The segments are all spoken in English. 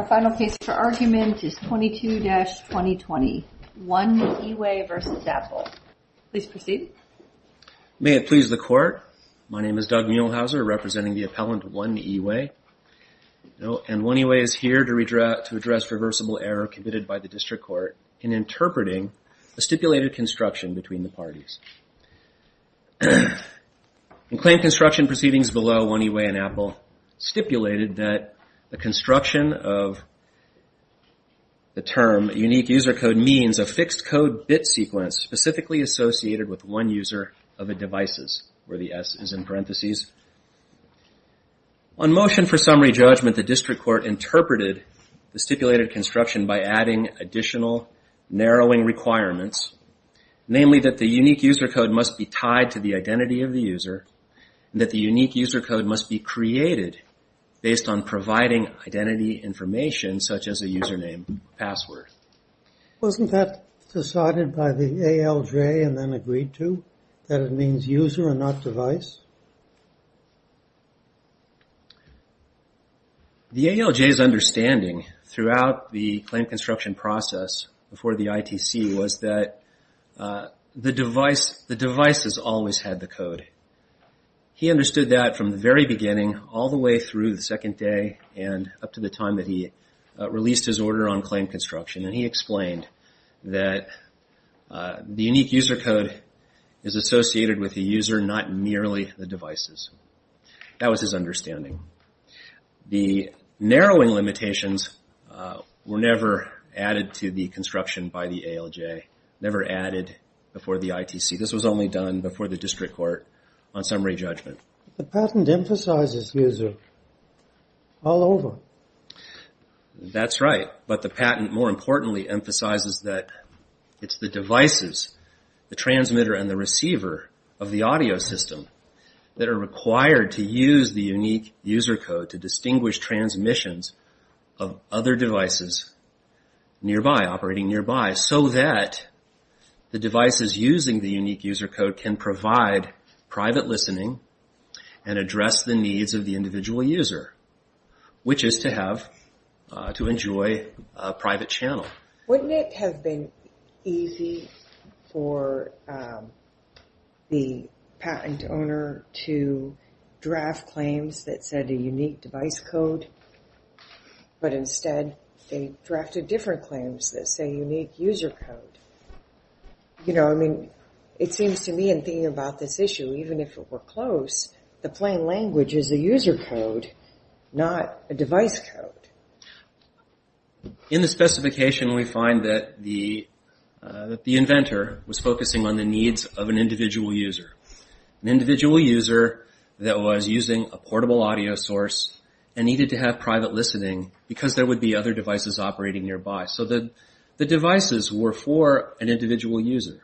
Our final case for argument is 22-2020, One-E-Way v. Apple. Please proceed. May it please the Court, my name is Doug Muehlhauser, representing the appellant One-E-Way. And One-E-Way is here to address reversible error committed by the District Court in interpreting the stipulated construction between the parties. In claim construction proceedings below, One-E-Way and Apple stipulated that the construction of the term unique user code means a fixed code bit sequence specifically associated with one user of the devices, where the S is in parentheses. On motion for summary judgment, the District Court interpreted the stipulated construction by adding additional narrowing requirements, namely that the unique user code must be tied to the identity of the user, and that the unique user code must be created based on identity information, such as a username or password. Wasn't that decided by the ALJ and then agreed to, that it means user and not device? The ALJ's understanding throughout the claim construction process before the ITC was that the devices always had the code. He understood that from the very beginning all the way through the second day and up to the time that he released his order on claim construction, and he explained that the unique user code is associated with the user, not merely the devices. That was his understanding. The narrowing limitations were never added to the construction by the ALJ, never added before the ITC. This was only done before the District Court on summary judgment. The patent emphasizes user all over. That's right, but the patent more importantly emphasizes that it's the devices, the transmitter and the receiver of the audio system, that are required to use the unique user code to distinguish transmissions of other devices nearby, operating nearby, so that the devices using the unique user code can provide private listening and address the needs of the individual user, which is to enjoy a private channel. Wouldn't it have been easy for the patent owner to draft claims that said a unique device code, but instead they drafted different claims that say unique user code? It seems to me in thinking about this issue, even if it were close, the plain language is a user code, not a device code. In the specification we find that the inventor was focusing on the needs of an individual user. An individual user that was using a portable audio source and needed to have private listening because there would be other devices operating nearby. The devices were for an individual user.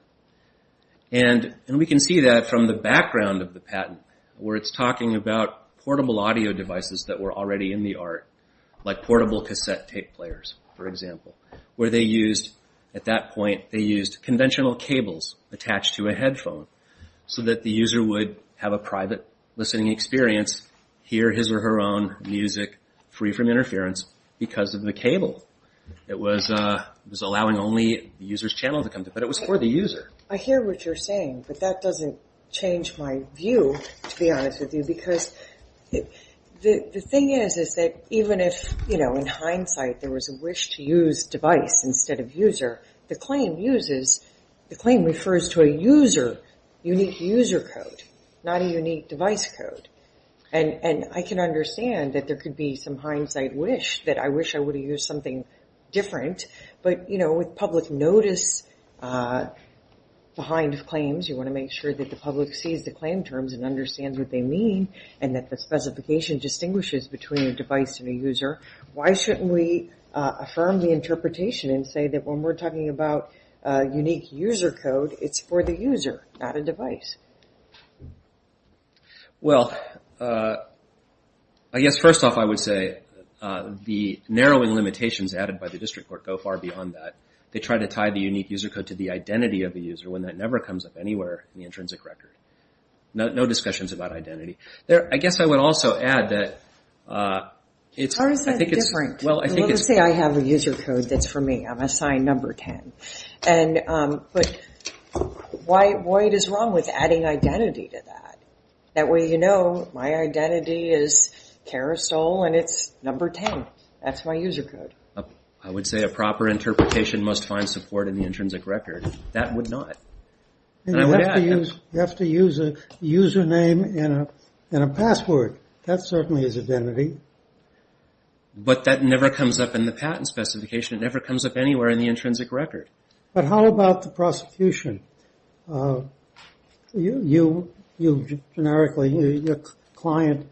We can see that from the background of the patent where it's talking about portable audio devices that were already in the art, like portable cassette tape players, for example, where at that point they used conventional cables attached to a headphone so that the user would have a private listening experience, hear his or her own music free from interference because of the cable. It was allowing only the user's channel to come through, but it was for the user. I hear what you're saying, but that doesn't change my view, to be honest with you, because the thing is that even if in hindsight there was a wish to use device instead of user, the claim refers to a user, unique user code, not a unique device code. And I can understand that there could be some hindsight wish that I wish I would have used something different, but with public notice behind claims, you want to make sure that the public sees the claim terms and understands what they mean and that the specification distinguishes between a device and a user, why shouldn't we affirm the interpretation and say that when we're talking about unique user code, it's for the user, not a device? Well, I guess first off I would say the narrowing limitations added by the district court go far beyond that. They try to tie the unique user code to the identity of the user when that never comes up anywhere in the intrinsic record. No discussions about identity. I guess I would also add that it's- How is that different? Let's say I have a user code that's for me. I'm assigned number adding identity to that. That way you know my identity is carousel and it's number 10. That's my user code. I would say a proper interpretation must find support in the intrinsic record. That would not. You have to use a username and a password. That certainly is identity. But that never comes up in the patent specification. It never comes up anywhere in the intrinsic record. But how about the prosecution? You, generically, your client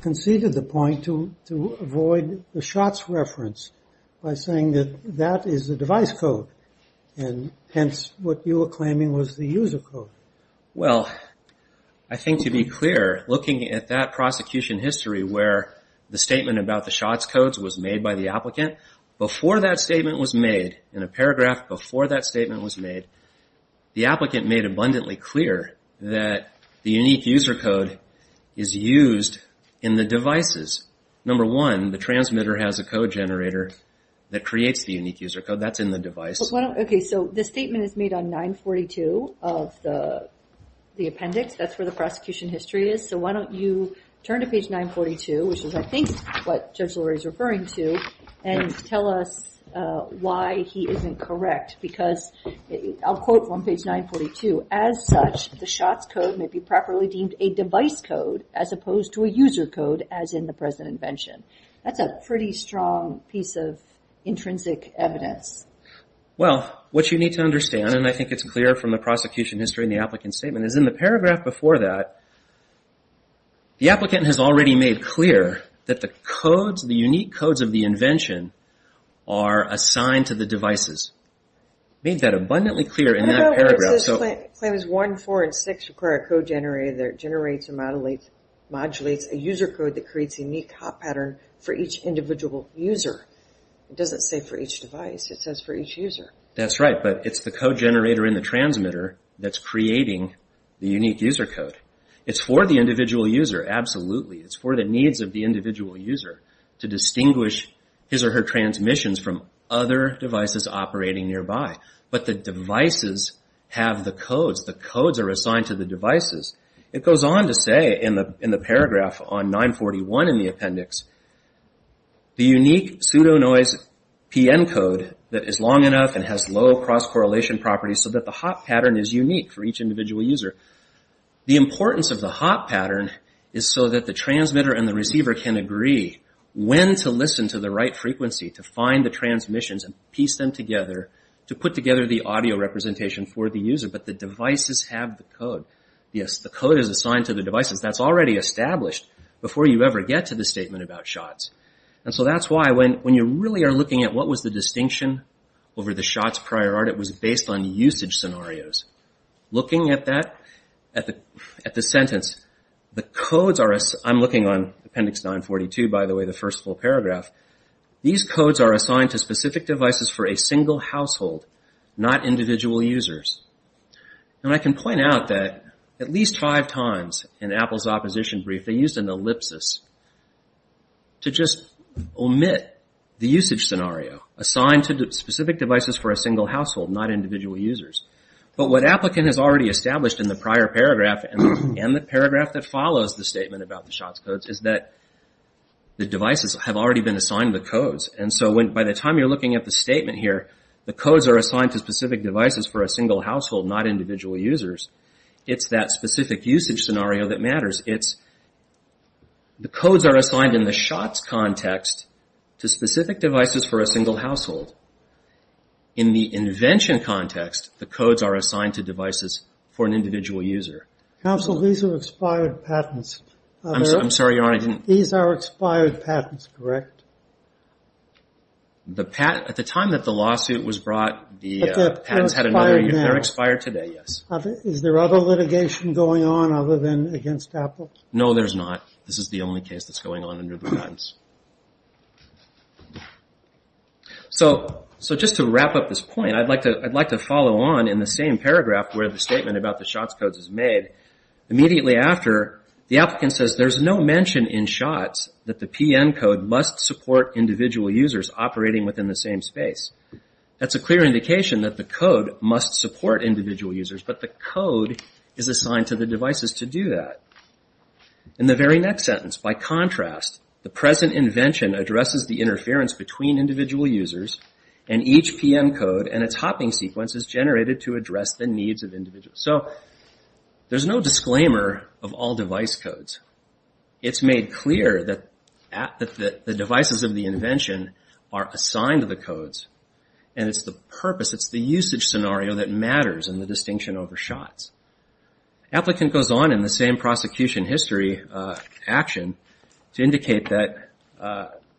conceded the point to avoid the shots reference by saying that that is the device code and hence what you were claiming was the user code. Well, I think to be clear, looking at that prosecution history where the statement about the shots codes was made by the applicant, before that statement was made, in a paragraph before that statement was made, the applicant made abundantly clear that the unique user code is used in the devices. Number one, the transmitter has a code generator that creates the unique user code. That's in the device. Okay, so this statement is made on 942 of the appendix. That's where the prosecution history is. So why don't you turn to page 942, which is, I think, what Judge Lurie is referring to, and tell us why he isn't correct because, I'll quote from page 942, as such, the shots code may be properly deemed a device code as opposed to a user code as in the present invention. That's a pretty strong piece of intrinsic evidence. Well, what you need to understand, and I think it's clear from the prosecution history in the applicant's statement, is in the paragraph before that, the applicant has already made clear that the unique codes of the invention are assigned to the devices. Made that abundantly clear in that paragraph. Well, what is this claim? Claims 1, 4, and 6 require a code generator that generates and modulates a user code that creates a unique hot pattern for each individual user. It doesn't say for each device. It says for each user. That's right. But it's the code generator in the transmitter that's creating the unique user code. It's for the individual user, absolutely. It's for the needs of the individual user to distinguish his or her transmissions from other devices operating nearby. But the devices have the codes. The codes are assigned to the devices. It goes on to say in the paragraph on 941 in the appendix, the unique pseudo noise PN code that is long enough and has low cross-correlation properties so that the hot pattern is unique for each individual user. The importance of the hot pattern is so that the transmitter and the receiver can agree when to listen to the right frequency to find the transmissions and piece them together to put together the audio representation for the user. But the devices have the code. Yes, the code is assigned to the devices. That's already established before you ever get to the statement about shots. So that's why when you really are looking at what was the distinction over the shots prior art, it was based on usage scenarios. Looking at that, at the sentence, the codes are assigned. I'm looking on appendix 942, by the way, the first full paragraph. These codes are assigned to specific devices for a single household, not individual users. And I can point out that at least five times in Apple's opposition brief, they used an omit the usage scenario. Assigned to specific devices for a single household, not individual users. But what Applicant has already established in the prior paragraph and the paragraph that follows the statement about the shots codes is that the devices have already been assigned the codes. And so by the time you're looking at the statement here, the codes are assigned to specific devices for a single household, not individual users. It's that specific usage scenario that matters. It's the codes are assigned in the shots context to specific devices for a single household. In the invention context, the codes are assigned to devices for an individual user. Counsel, these are expired patents. I'm sorry, Your Honor, I didn't... These are expired patents, correct? The patent, at the time that the lawsuit was brought, the patents had another... But they're expired now. They're expired today, yes. Is there other litigation going on other than against Apple? No, there's not. This is the only case that's going on under the guidance. So just to wrap up this point, I'd like to follow on in the same paragraph where the statement about the shots codes is made. Immediately after, the Applicant says, there's no mention in shots that the PN code must support individual users operating within the same space. That's a clear indication that the code must support individual users, but the code is assigned to the devices to do that. In the very next sentence, by contrast, the present invention addresses the interference between individual users, and each PN code and its hopping sequence is generated to address the needs of individuals. So there's no disclaimer of all device codes. It's made clear that the devices of the invention are assigned to the codes, and it's the purpose, it's the usage scenario that matters in the distinction over shots. Applicant goes on in the same prosecution history action to indicate that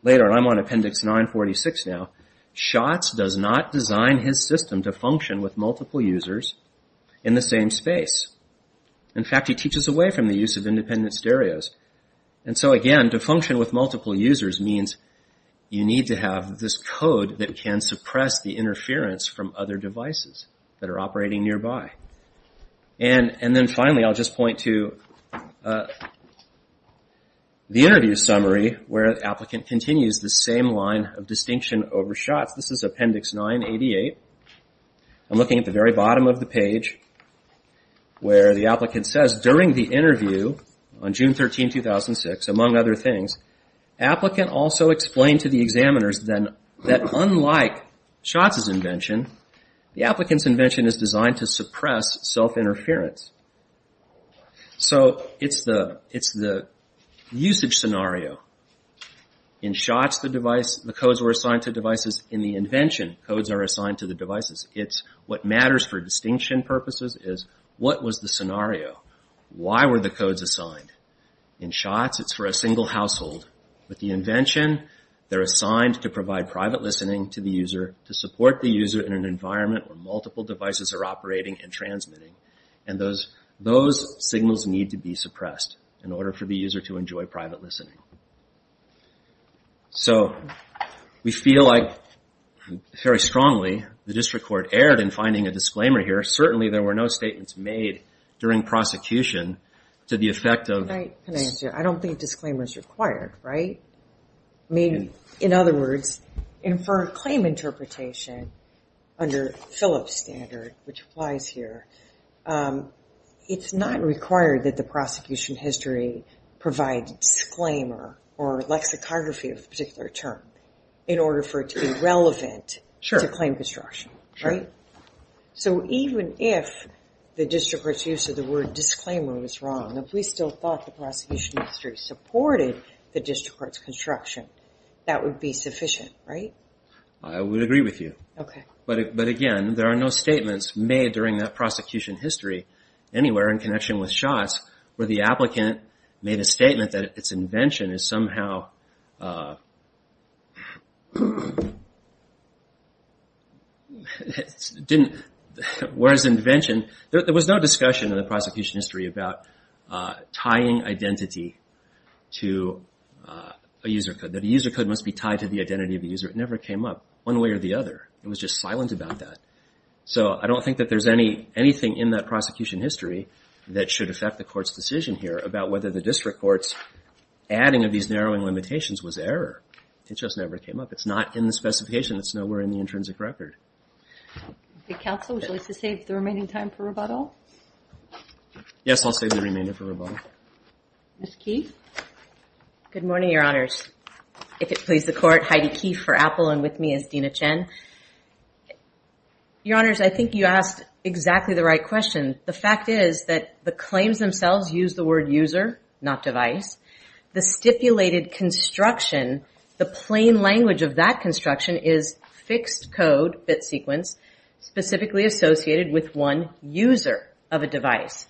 later, and I'm on Appendix 946 now, shots does not design his system to function with multiple users in the same space. In fact, he teaches away from the use of independent stereos. And so again, to function with multiple users means you need to have this code that can suppress the interference from other devices that are operating nearby. And then finally, I'll just point to the interview summary where the Applicant continues the same line of distinction over shots. This is Appendix 988. I'm looking at the very bottom of the page where the Applicant says, during the interview on June 13, 2006, among other things, Applicant also explained to the examiners that unlike shots' invention, the Applicant's invention is designed to suppress self-interference. So it's the usage scenario. In shots, the codes were assigned to devices. In the invention, codes are assigned to the devices. What matters for distinction purposes is what was the scenario? Why were the codes assigned? In shots, it's for a single household. With the invention, they're assigned to provide private listening to the user, to support the user in an environment where multiple devices are operating and transmitting, and those signals need to be suppressed in order for the user to enjoy private listening. So, we feel like, very strongly, the District Court erred in finding a disclaimer here. Certainly there were no statements made during prosecution to the effect of... Can I answer? I don't think disclaimers are required, right? I mean, in other words, for claim interpretation under Phillips' standard, which applies here, it's not required that the prosecution history provide disclaimer or lexicography of a particular term in order for it to be relevant to claim construction, right? So even if the District Court's use of the word disclaimer was wrong, if we still thought the prosecution history supported the District Court's construction, that would be sufficient, right? I would agree with you. But again, there are no statements made during that prosecution history anywhere in connection with shots where the applicant made a statement that its invention is somehow... Whereas invention... There was no discussion in the prosecution history about tying identity to a user code, that a user code must be tied to the identity of the user. It never came up one way or the other. It was just silent about that. So I don't think that there's anything in that prosecution history that should affect the Court's decision here about whether the District Court's adding of these narrowing limitations was error. It just never came up. It's not in the specification. It's nowhere in the intrinsic record. Okay. Counsel, would you like to save the remaining time for rebuttal? Yes, I'll save the remaining time for rebuttal. Ms. Keefe? Good morning, Your Honors. If it pleases the Court, Heidi Keefe for Apple and with me is I think you asked exactly the right question. The fact is that the claims themselves use the word user, not device. The stipulated construction, the plain language of that construction is fixed code, bit sequence, specifically associated with one user of a device.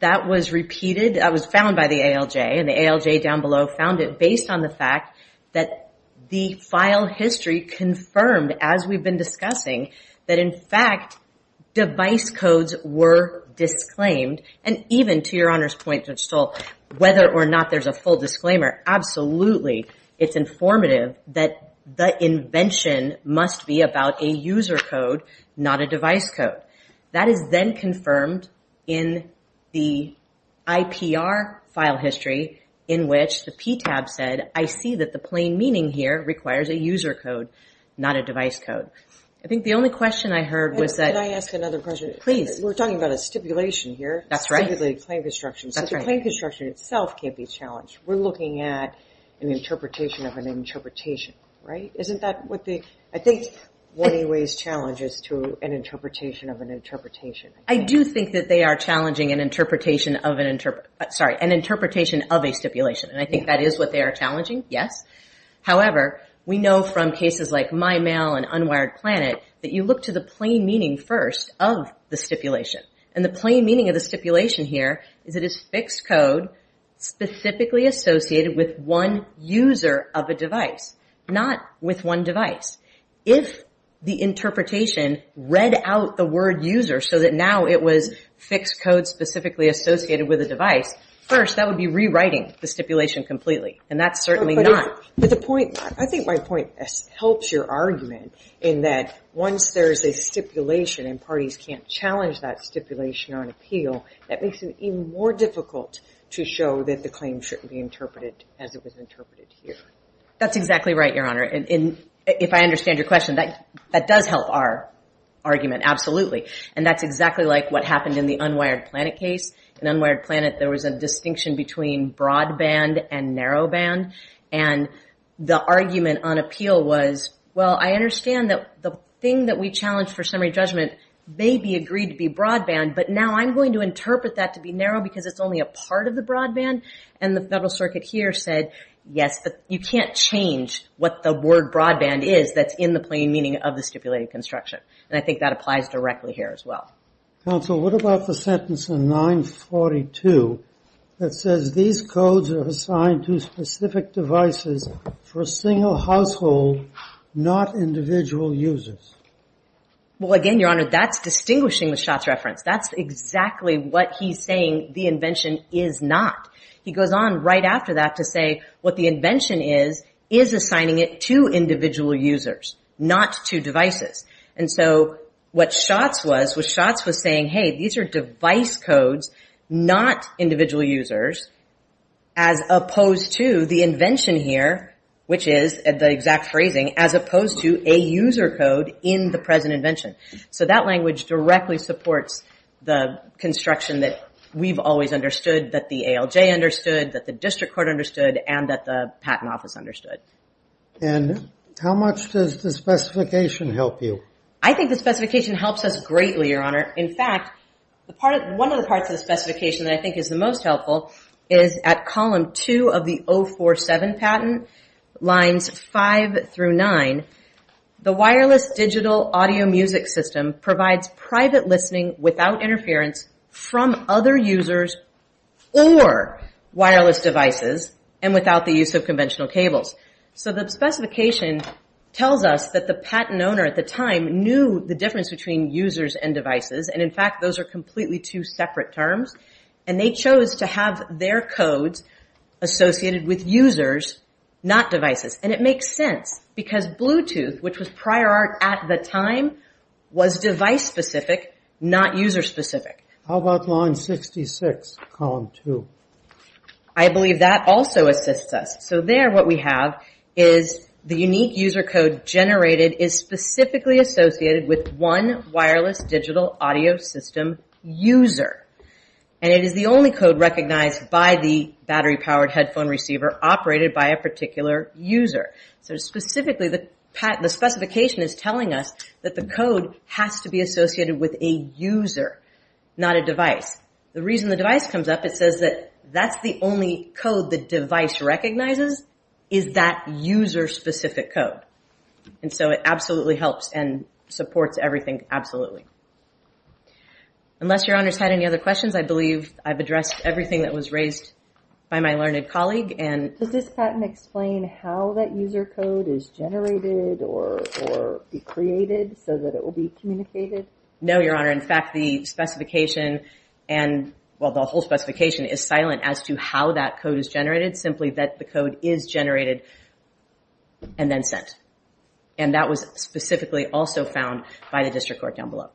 That was repeated. That was found by the ALJ and the ALJ down below found it based on the fact that the file history confirmed, as we've been discussing, that in fact device codes were disclaimed. And even to Your Honor's point, Judge Stoll, whether or not there's a full disclaimer, absolutely it's informative that the invention must be about a user code, not a device code. That is then confirmed in the IPR file history in which the PTAB said, I see that the plain meaning here requires a user code, not a device code. I think the only question I heard was that... Can I ask another question? Please. We're talking about a stipulation here, specifically a claim construction. So the claim construction itself can't be challenged. We're looking at an interpretation of an interpretation, right? Isn't that what the... I think one of the ways challenges to an interpretation of an interpretation. I do think that they are challenging an interpretation of an... Sorry, an interpretation of a stipulation. And I think that is what they are challenging, yes. However, we know from cases like MyMail and UnwiredPlanet that you look to the plain meaning first of the stipulation. And the plain meaning of the stipulation here is it is fixed code specifically associated with one user of a device, not with one device. If the interpretation read out the word user so that now it was fixed code specifically associated with a device, first that would be rewriting the stipulation completely. And that's certainly not... But the point... I think my point helps your argument in that once there's a stipulation and parties can't challenge that stipulation on appeal, that makes it even more difficult to show that the claim shouldn't be interpreted as it was interpreted here. That's exactly right, Your Honor. And if I understand your question, that does help our argument, absolutely. And that's exactly like what happened in the UnwiredPlanet case. In between broadband and narrow band. And the argument on appeal was, well, I understand that the thing that we challenged for summary judgment may be agreed to be broadband, but now I'm going to interpret that to be narrow because it's only a part of the broadband. And the Federal Circuit here said, yes, but you can't change what the word broadband is that's in the plain meaning of the stipulated construction. And I think that applies directly here as well. Counsel, what about the sentence in 942 that says, these codes are assigned to specific devices for a single household, not individual users? Well, again, Your Honor, that's distinguishing the Schatz reference. That's exactly what he's saying the invention is not. He goes on right after that to say what the invention is, is assigning it to individual users, not to devices. And so what Schatz was saying, hey, these are device codes, not individual users, as opposed to the invention here, which is the exact phrasing, as opposed to a user code in the present invention. So that language directly supports the construction that we've always understood, that the ALJ understood, that the District Court understood, and that the Patent Office understood. And how much does the specification help you? I think the specification helps us greatly, Your Honor. In fact, one of the parts of the specification that I think is the most helpful is at column 2 of the 047 patent, lines 5 through 9, the wireless digital audio music system provides private listening without interference from other users or wireless devices and without the use of conventional cables. So the specification tells us that the patent owner at the time knew the difference between users and devices, and in fact, those are completely two separate terms, and they chose to have their codes associated with users, not devices. And it makes sense, because prior art at the time was device-specific, not user-specific. How about line 66, column 2? I believe that also assists us. So there what we have is the unique user code generated is specifically associated with one wireless digital audio system user. And it is the only code recognized by the battery-powered headphone receiver operated by a particular user. So the specification is telling us that the code has to be associated with a user, not a device. The reason the device comes up, it says that that's the only code the device recognizes is that user-specific code. And so it absolutely helps and supports everything, absolutely. Unless Your Honor's had any other questions, I believe I've addressed everything that was raised by my learned colleague. Does this patent explain how that user code is generated or created so that it will be communicated? No, Your Honor. In fact, the specification, well, the whole specification is silent as to how that code is generated, simply that the code is generated and then sent. And that was specifically also found by the district court down below.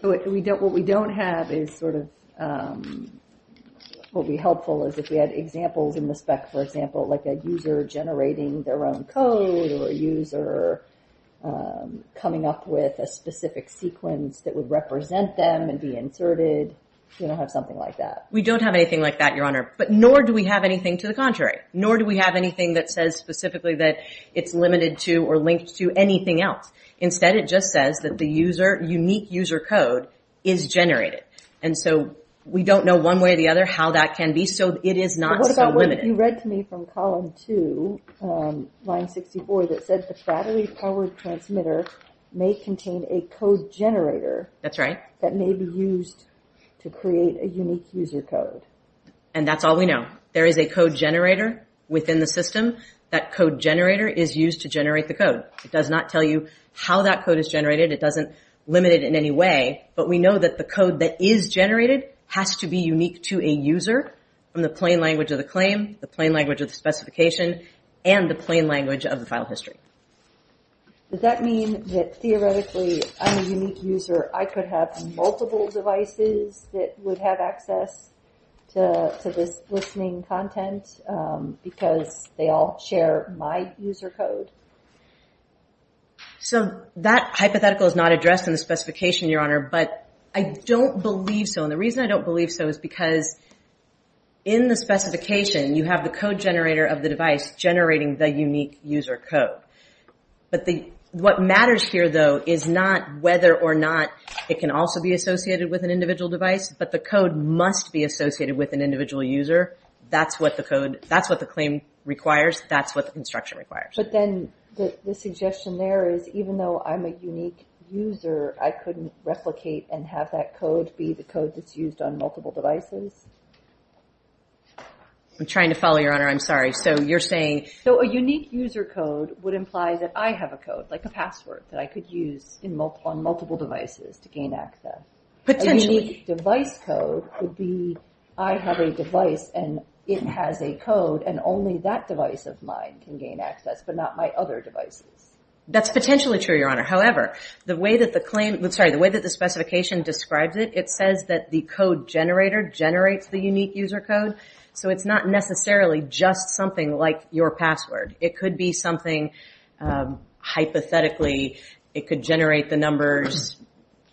So what we don't have is sort of, what would be helpful is if we had examples in the spec, for example, like a user generating their own code or a user coming up with a specific sequence that would represent them and be inserted. We don't have something like that. We don't have anything like that, Your Honor. But nor do we have anything to the contrary. Nor do we have anything that says specifically that it's limited to or linked to anything else. Instead, it just says that the unique user code is generated. And so we don't know one way or the other how that can be, so it is not so limited. But what about what you read to me from column two, line 64, that said the Fraternity Powered Transmitter may contain a code generator that may be used to create a unique user code? And that's all we know. There is a code generator within the system. That code generator is not going to tell you how that code is generated. It doesn't limit it in any way. But we know that the code that is generated has to be unique to a user from the plain language of the claim, the plain language of the specification, and the plain language of the file history. Does that mean that theoretically, I'm a unique user, I could have multiple devices that would have access to this listening content because they all share my user code? So, that hypothetical is not addressed in the specification, Your Honor, but I don't believe so. And the reason I don't believe so is because in the specification, you have the code generator of the device generating the unique user code. But what matters here though is not whether or not it can also be associated with an individual device, but the code must be associated with an individual user. That's what the claim requires. That's what the instruction requires. But then, the suggestion there is even though I'm a unique user, I couldn't replicate and have that code be the code that's used on multiple devices? I'm trying to follow, Your Honor. I'm sorry. So, you're saying... So, a unique user code would imply that I have a code, like a password, that I could use on multiple devices to gain access. Potentially. A unique device code would be I have a device and it has a code and only that device of mine can gain access, but not my other devices. That's potentially true, Your Honor. However, the way that the specification describes it, it says that the code generator generates the unique user code. So, it's not necessarily just something like your password. It could be something, hypothetically, it could generate the numbers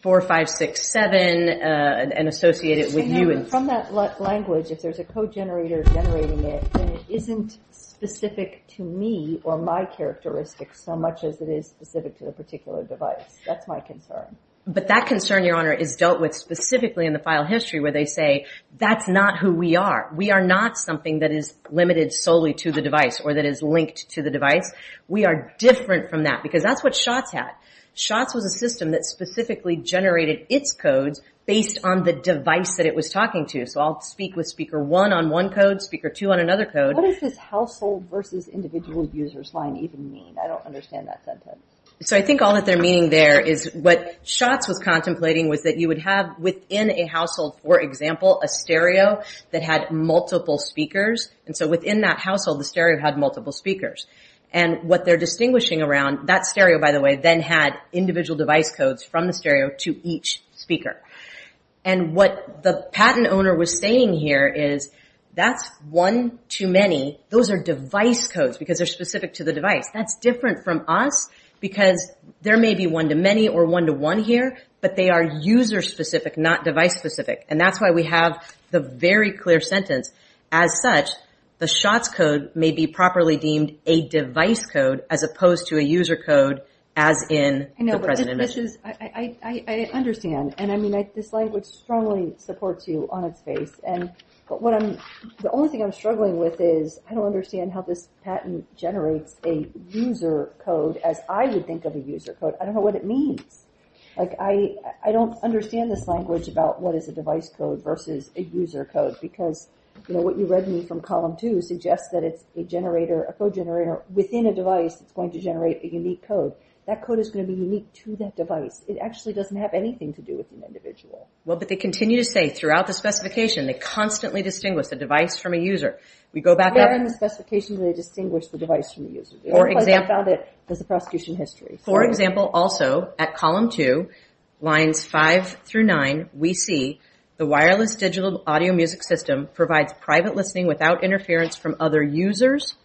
4, 5, 6, 7 and associate it with you. From that language, if there's a code generator generating it, then it isn't specific to me or my characteristics so much as it is specific to the particular device. That's my concern. But that concern, Your Honor, is dealt with specifically in the file history where they say that's not who we are. We are not something that is limited solely to the device or that is linked to the device. We are different from that because that's what SHOTS had. SHOTS was a system that specifically generated its codes based on the device that it was talking to. So, I'll speak with Speaker 1 on one code, Speaker 2 on another code. What does this household versus individual users line even mean? I don't understand that sentence. So, I think all that they're meaning there is what SHOTS was contemplating was that you would have within a household, for example, a stereo that had multiple speakers. And so, within that household, the stereo had multiple speakers. And what they're distinguishing around, that stereo, by the way, then had individual device codes from the stereo to each speaker. And what the patent owner was saying here is that's one-to-many. Those are device codes because they're specific to the device. That's different from us because there may be one-to-many or one-to-one here, but they are user-specific, not device-specific. And that's why we have the very clear sentence. As such, the SHOTS code may be properly deemed a device code as opposed to a user code as in the present initiative. I understand. And I mean, this language strongly supports you on its face. But the only thing I'm struggling with is I don't understand how this patent generates a user code as I would think of a user code. I don't know what it means. Like, I don't understand this language about what is a device code versus a user code because, you know, what you read me from the code generator, within a device, it's going to generate a unique code. That code is going to be unique to that device. It actually doesn't have anything to do with an individual. Well, but they continue to say throughout the specification, they constantly distinguish the device from a user. We go back up. Yeah, in the specification, they distinguish the device from the user. For example. I found it as a prosecution history. For example, also, at column two, lines five through nine, we see the wireless digital audio music system provides private listening without interference from other users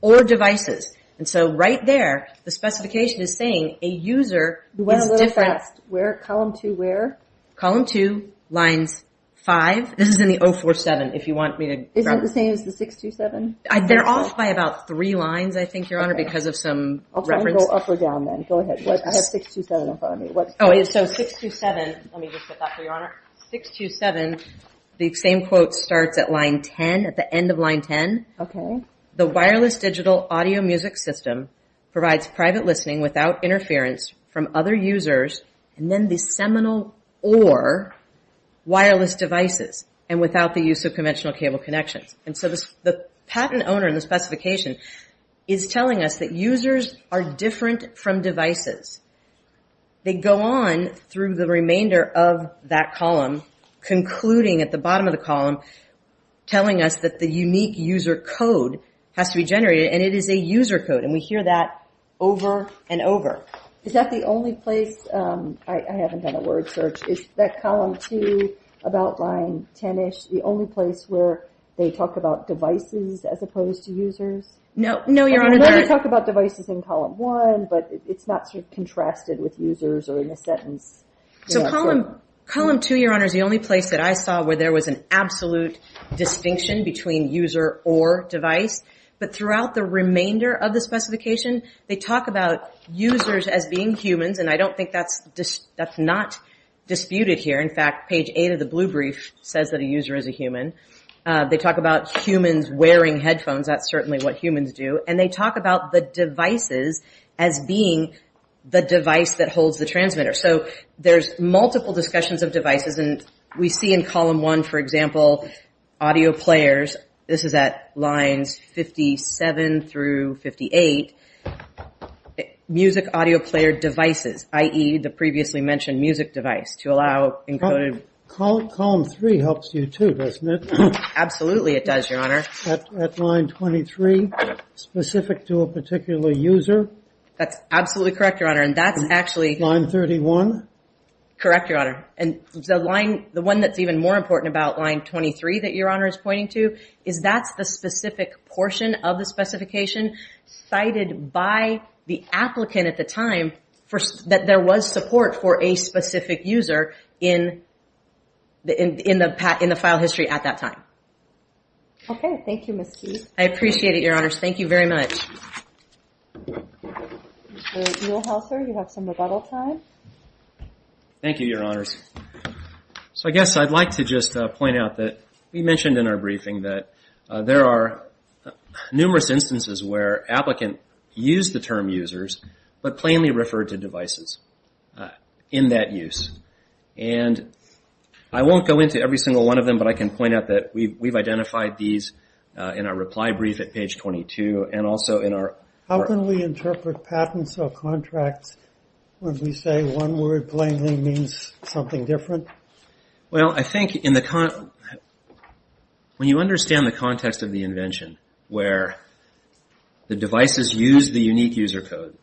or devices. And so right there, the specification is saying a user is different. Where, column two, where? Column two, lines five. This is in the 047, if you want me to. Isn't it the same as the 627? They're off by about three lines, I think, Your Honor, because of some reference. I'll try and go up or down then. Go ahead. I have 627 in front of me. So 627, let me just get that for you, Your Honor. 627, the same quote starts at line 10, at the end of line 10. Okay. The wireless digital audio music system provides private listening without interference from other users and then the seminal or wireless devices and without the use of conventional cable connections. And so the patent owner in the specification is telling us that users are different from So we go on through the remainder of that column, concluding at the bottom of the column, telling us that the unique user code has to be generated and it is a user code and we hear that over and over. Is that the only place, I haven't done a word search, is that column two, about line 10-ish, the only place where they talk about devices as opposed to users? No, Your Honor. They talk about devices in column one, but it's not sort of contrasted with users or in a sentence. So column two, Your Honor, is the only place that I saw where there was an absolute distinction between user or device. But throughout the remainder of the specification, they talk about users as being humans and I don't think that's not disputed here. In fact, page eight of the blue brief says that a user is a human. They talk about humans wearing headphones, that's certainly what humans do. And they talk about the devices as being the device that holds the transmitter. So there's multiple discussions of devices and we see in column one, for example, audio players, this is at lines 57 through 58, music audio player devices, i.e., the previously mentioned music device, to allow encoded... Column three helps you too, doesn't it? Absolutely it does, Your Honor. At line 23, specific to a particular user? That's absolutely correct, Your Honor. And that's actually... Line 31? Correct, Your Honor. And the line, the one that's even more important about line 23 that Your Honor is pointing to is that's the specific portion of the specification cited by the applicant at the time that there was support for a specific user in the file history at that time. Okay, thank you, Ms. Keefe. I appreciate it, Your Honors. Thank you very much. Mr. Muehlhauser, you have some rebuttal time. Thank you, Your Honors. So I guess I'd like to just point out that we mentioned in our briefing that there are numerous instances where applicants use the term users but plainly refer to devices in that use. And I won't go into every single one of them, but I can point out that we've identified these in our reply brief at page 22 and also in our... How can we interpret patents or contracts when we say one word plainly means something different? Well, I think in the... When you understand the context of the invention where the devices use the unique user code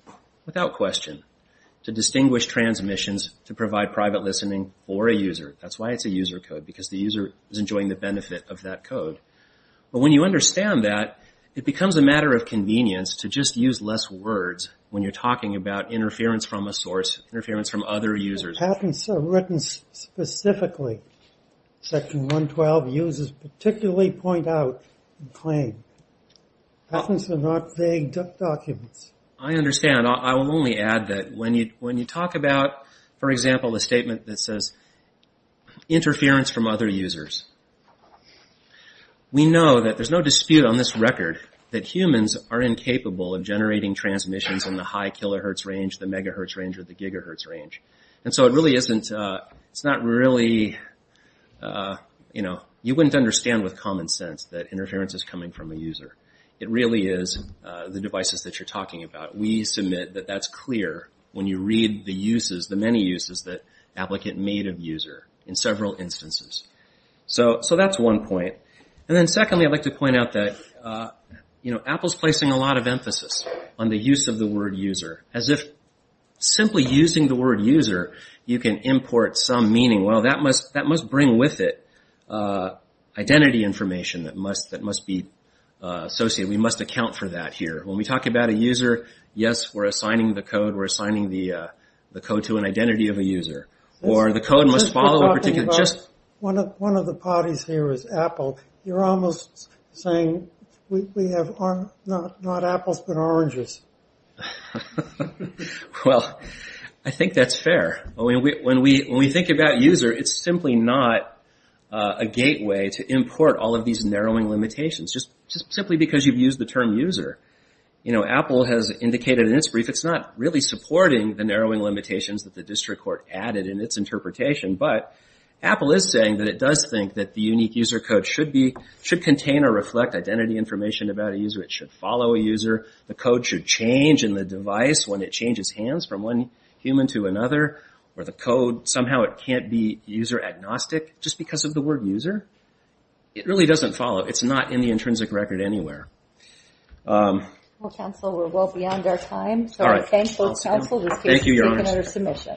without question to distinguish transmissions, to provide private listening for a user. That's why it's a user code, because the user is enjoying the benefit of that code. But when you understand that, it becomes a matter of convenience to just use less words when you're talking about interference from a source, interference from other users. Patents are written specifically, section 112 users particularly point out and claim. Patents are not vague documents. I understand. I will only add that when you talk about, for example, a statement that says interference from other users, we know that there's no dispute on this record that humans are incapable of generating transmissions in the high kilohertz range, the megahertz range, or the gigahertz range. And so it really isn't... It's not really... You wouldn't understand with common sense that interference is coming from a user. It really is the devices that you're talking about. We submit that that's clear when you read the uses, the many uses that applicant made of user in several instances. So that's one point. And then secondly, I'd like to point out that Apple's placing a lot of emphasis on the use of the word user, as if simply using the word user, you can import some meaning. Well, that must bring with it identity information that must be associated. We must account for that here. When we talk about a user, yes, we're assigning the code. We're assigning the code to an identity of a user. Or the code must follow a particular... One of the parties here is Apple. You're almost saying we have not apples, but oranges. Well, I think that's fair. When we think about user, it's simply not a gateway to import all of these narrowing limitations, just simply because you've used the term user. Apple has indicated in its brief, it's not really supporting the narrowing limitations that the district court added in its interpretation. But Apple is saying that it does think that the unique user code should contain or reflect It should follow a user. The code should change in the device when it changes hands from one human to another. Or the code, somehow it can't be user agnostic, just because of the word user. It really doesn't follow. It's not in the intrinsic record anywhere. Well, counsel, we're well beyond our time, so I thank both counsel, who's taken under submission.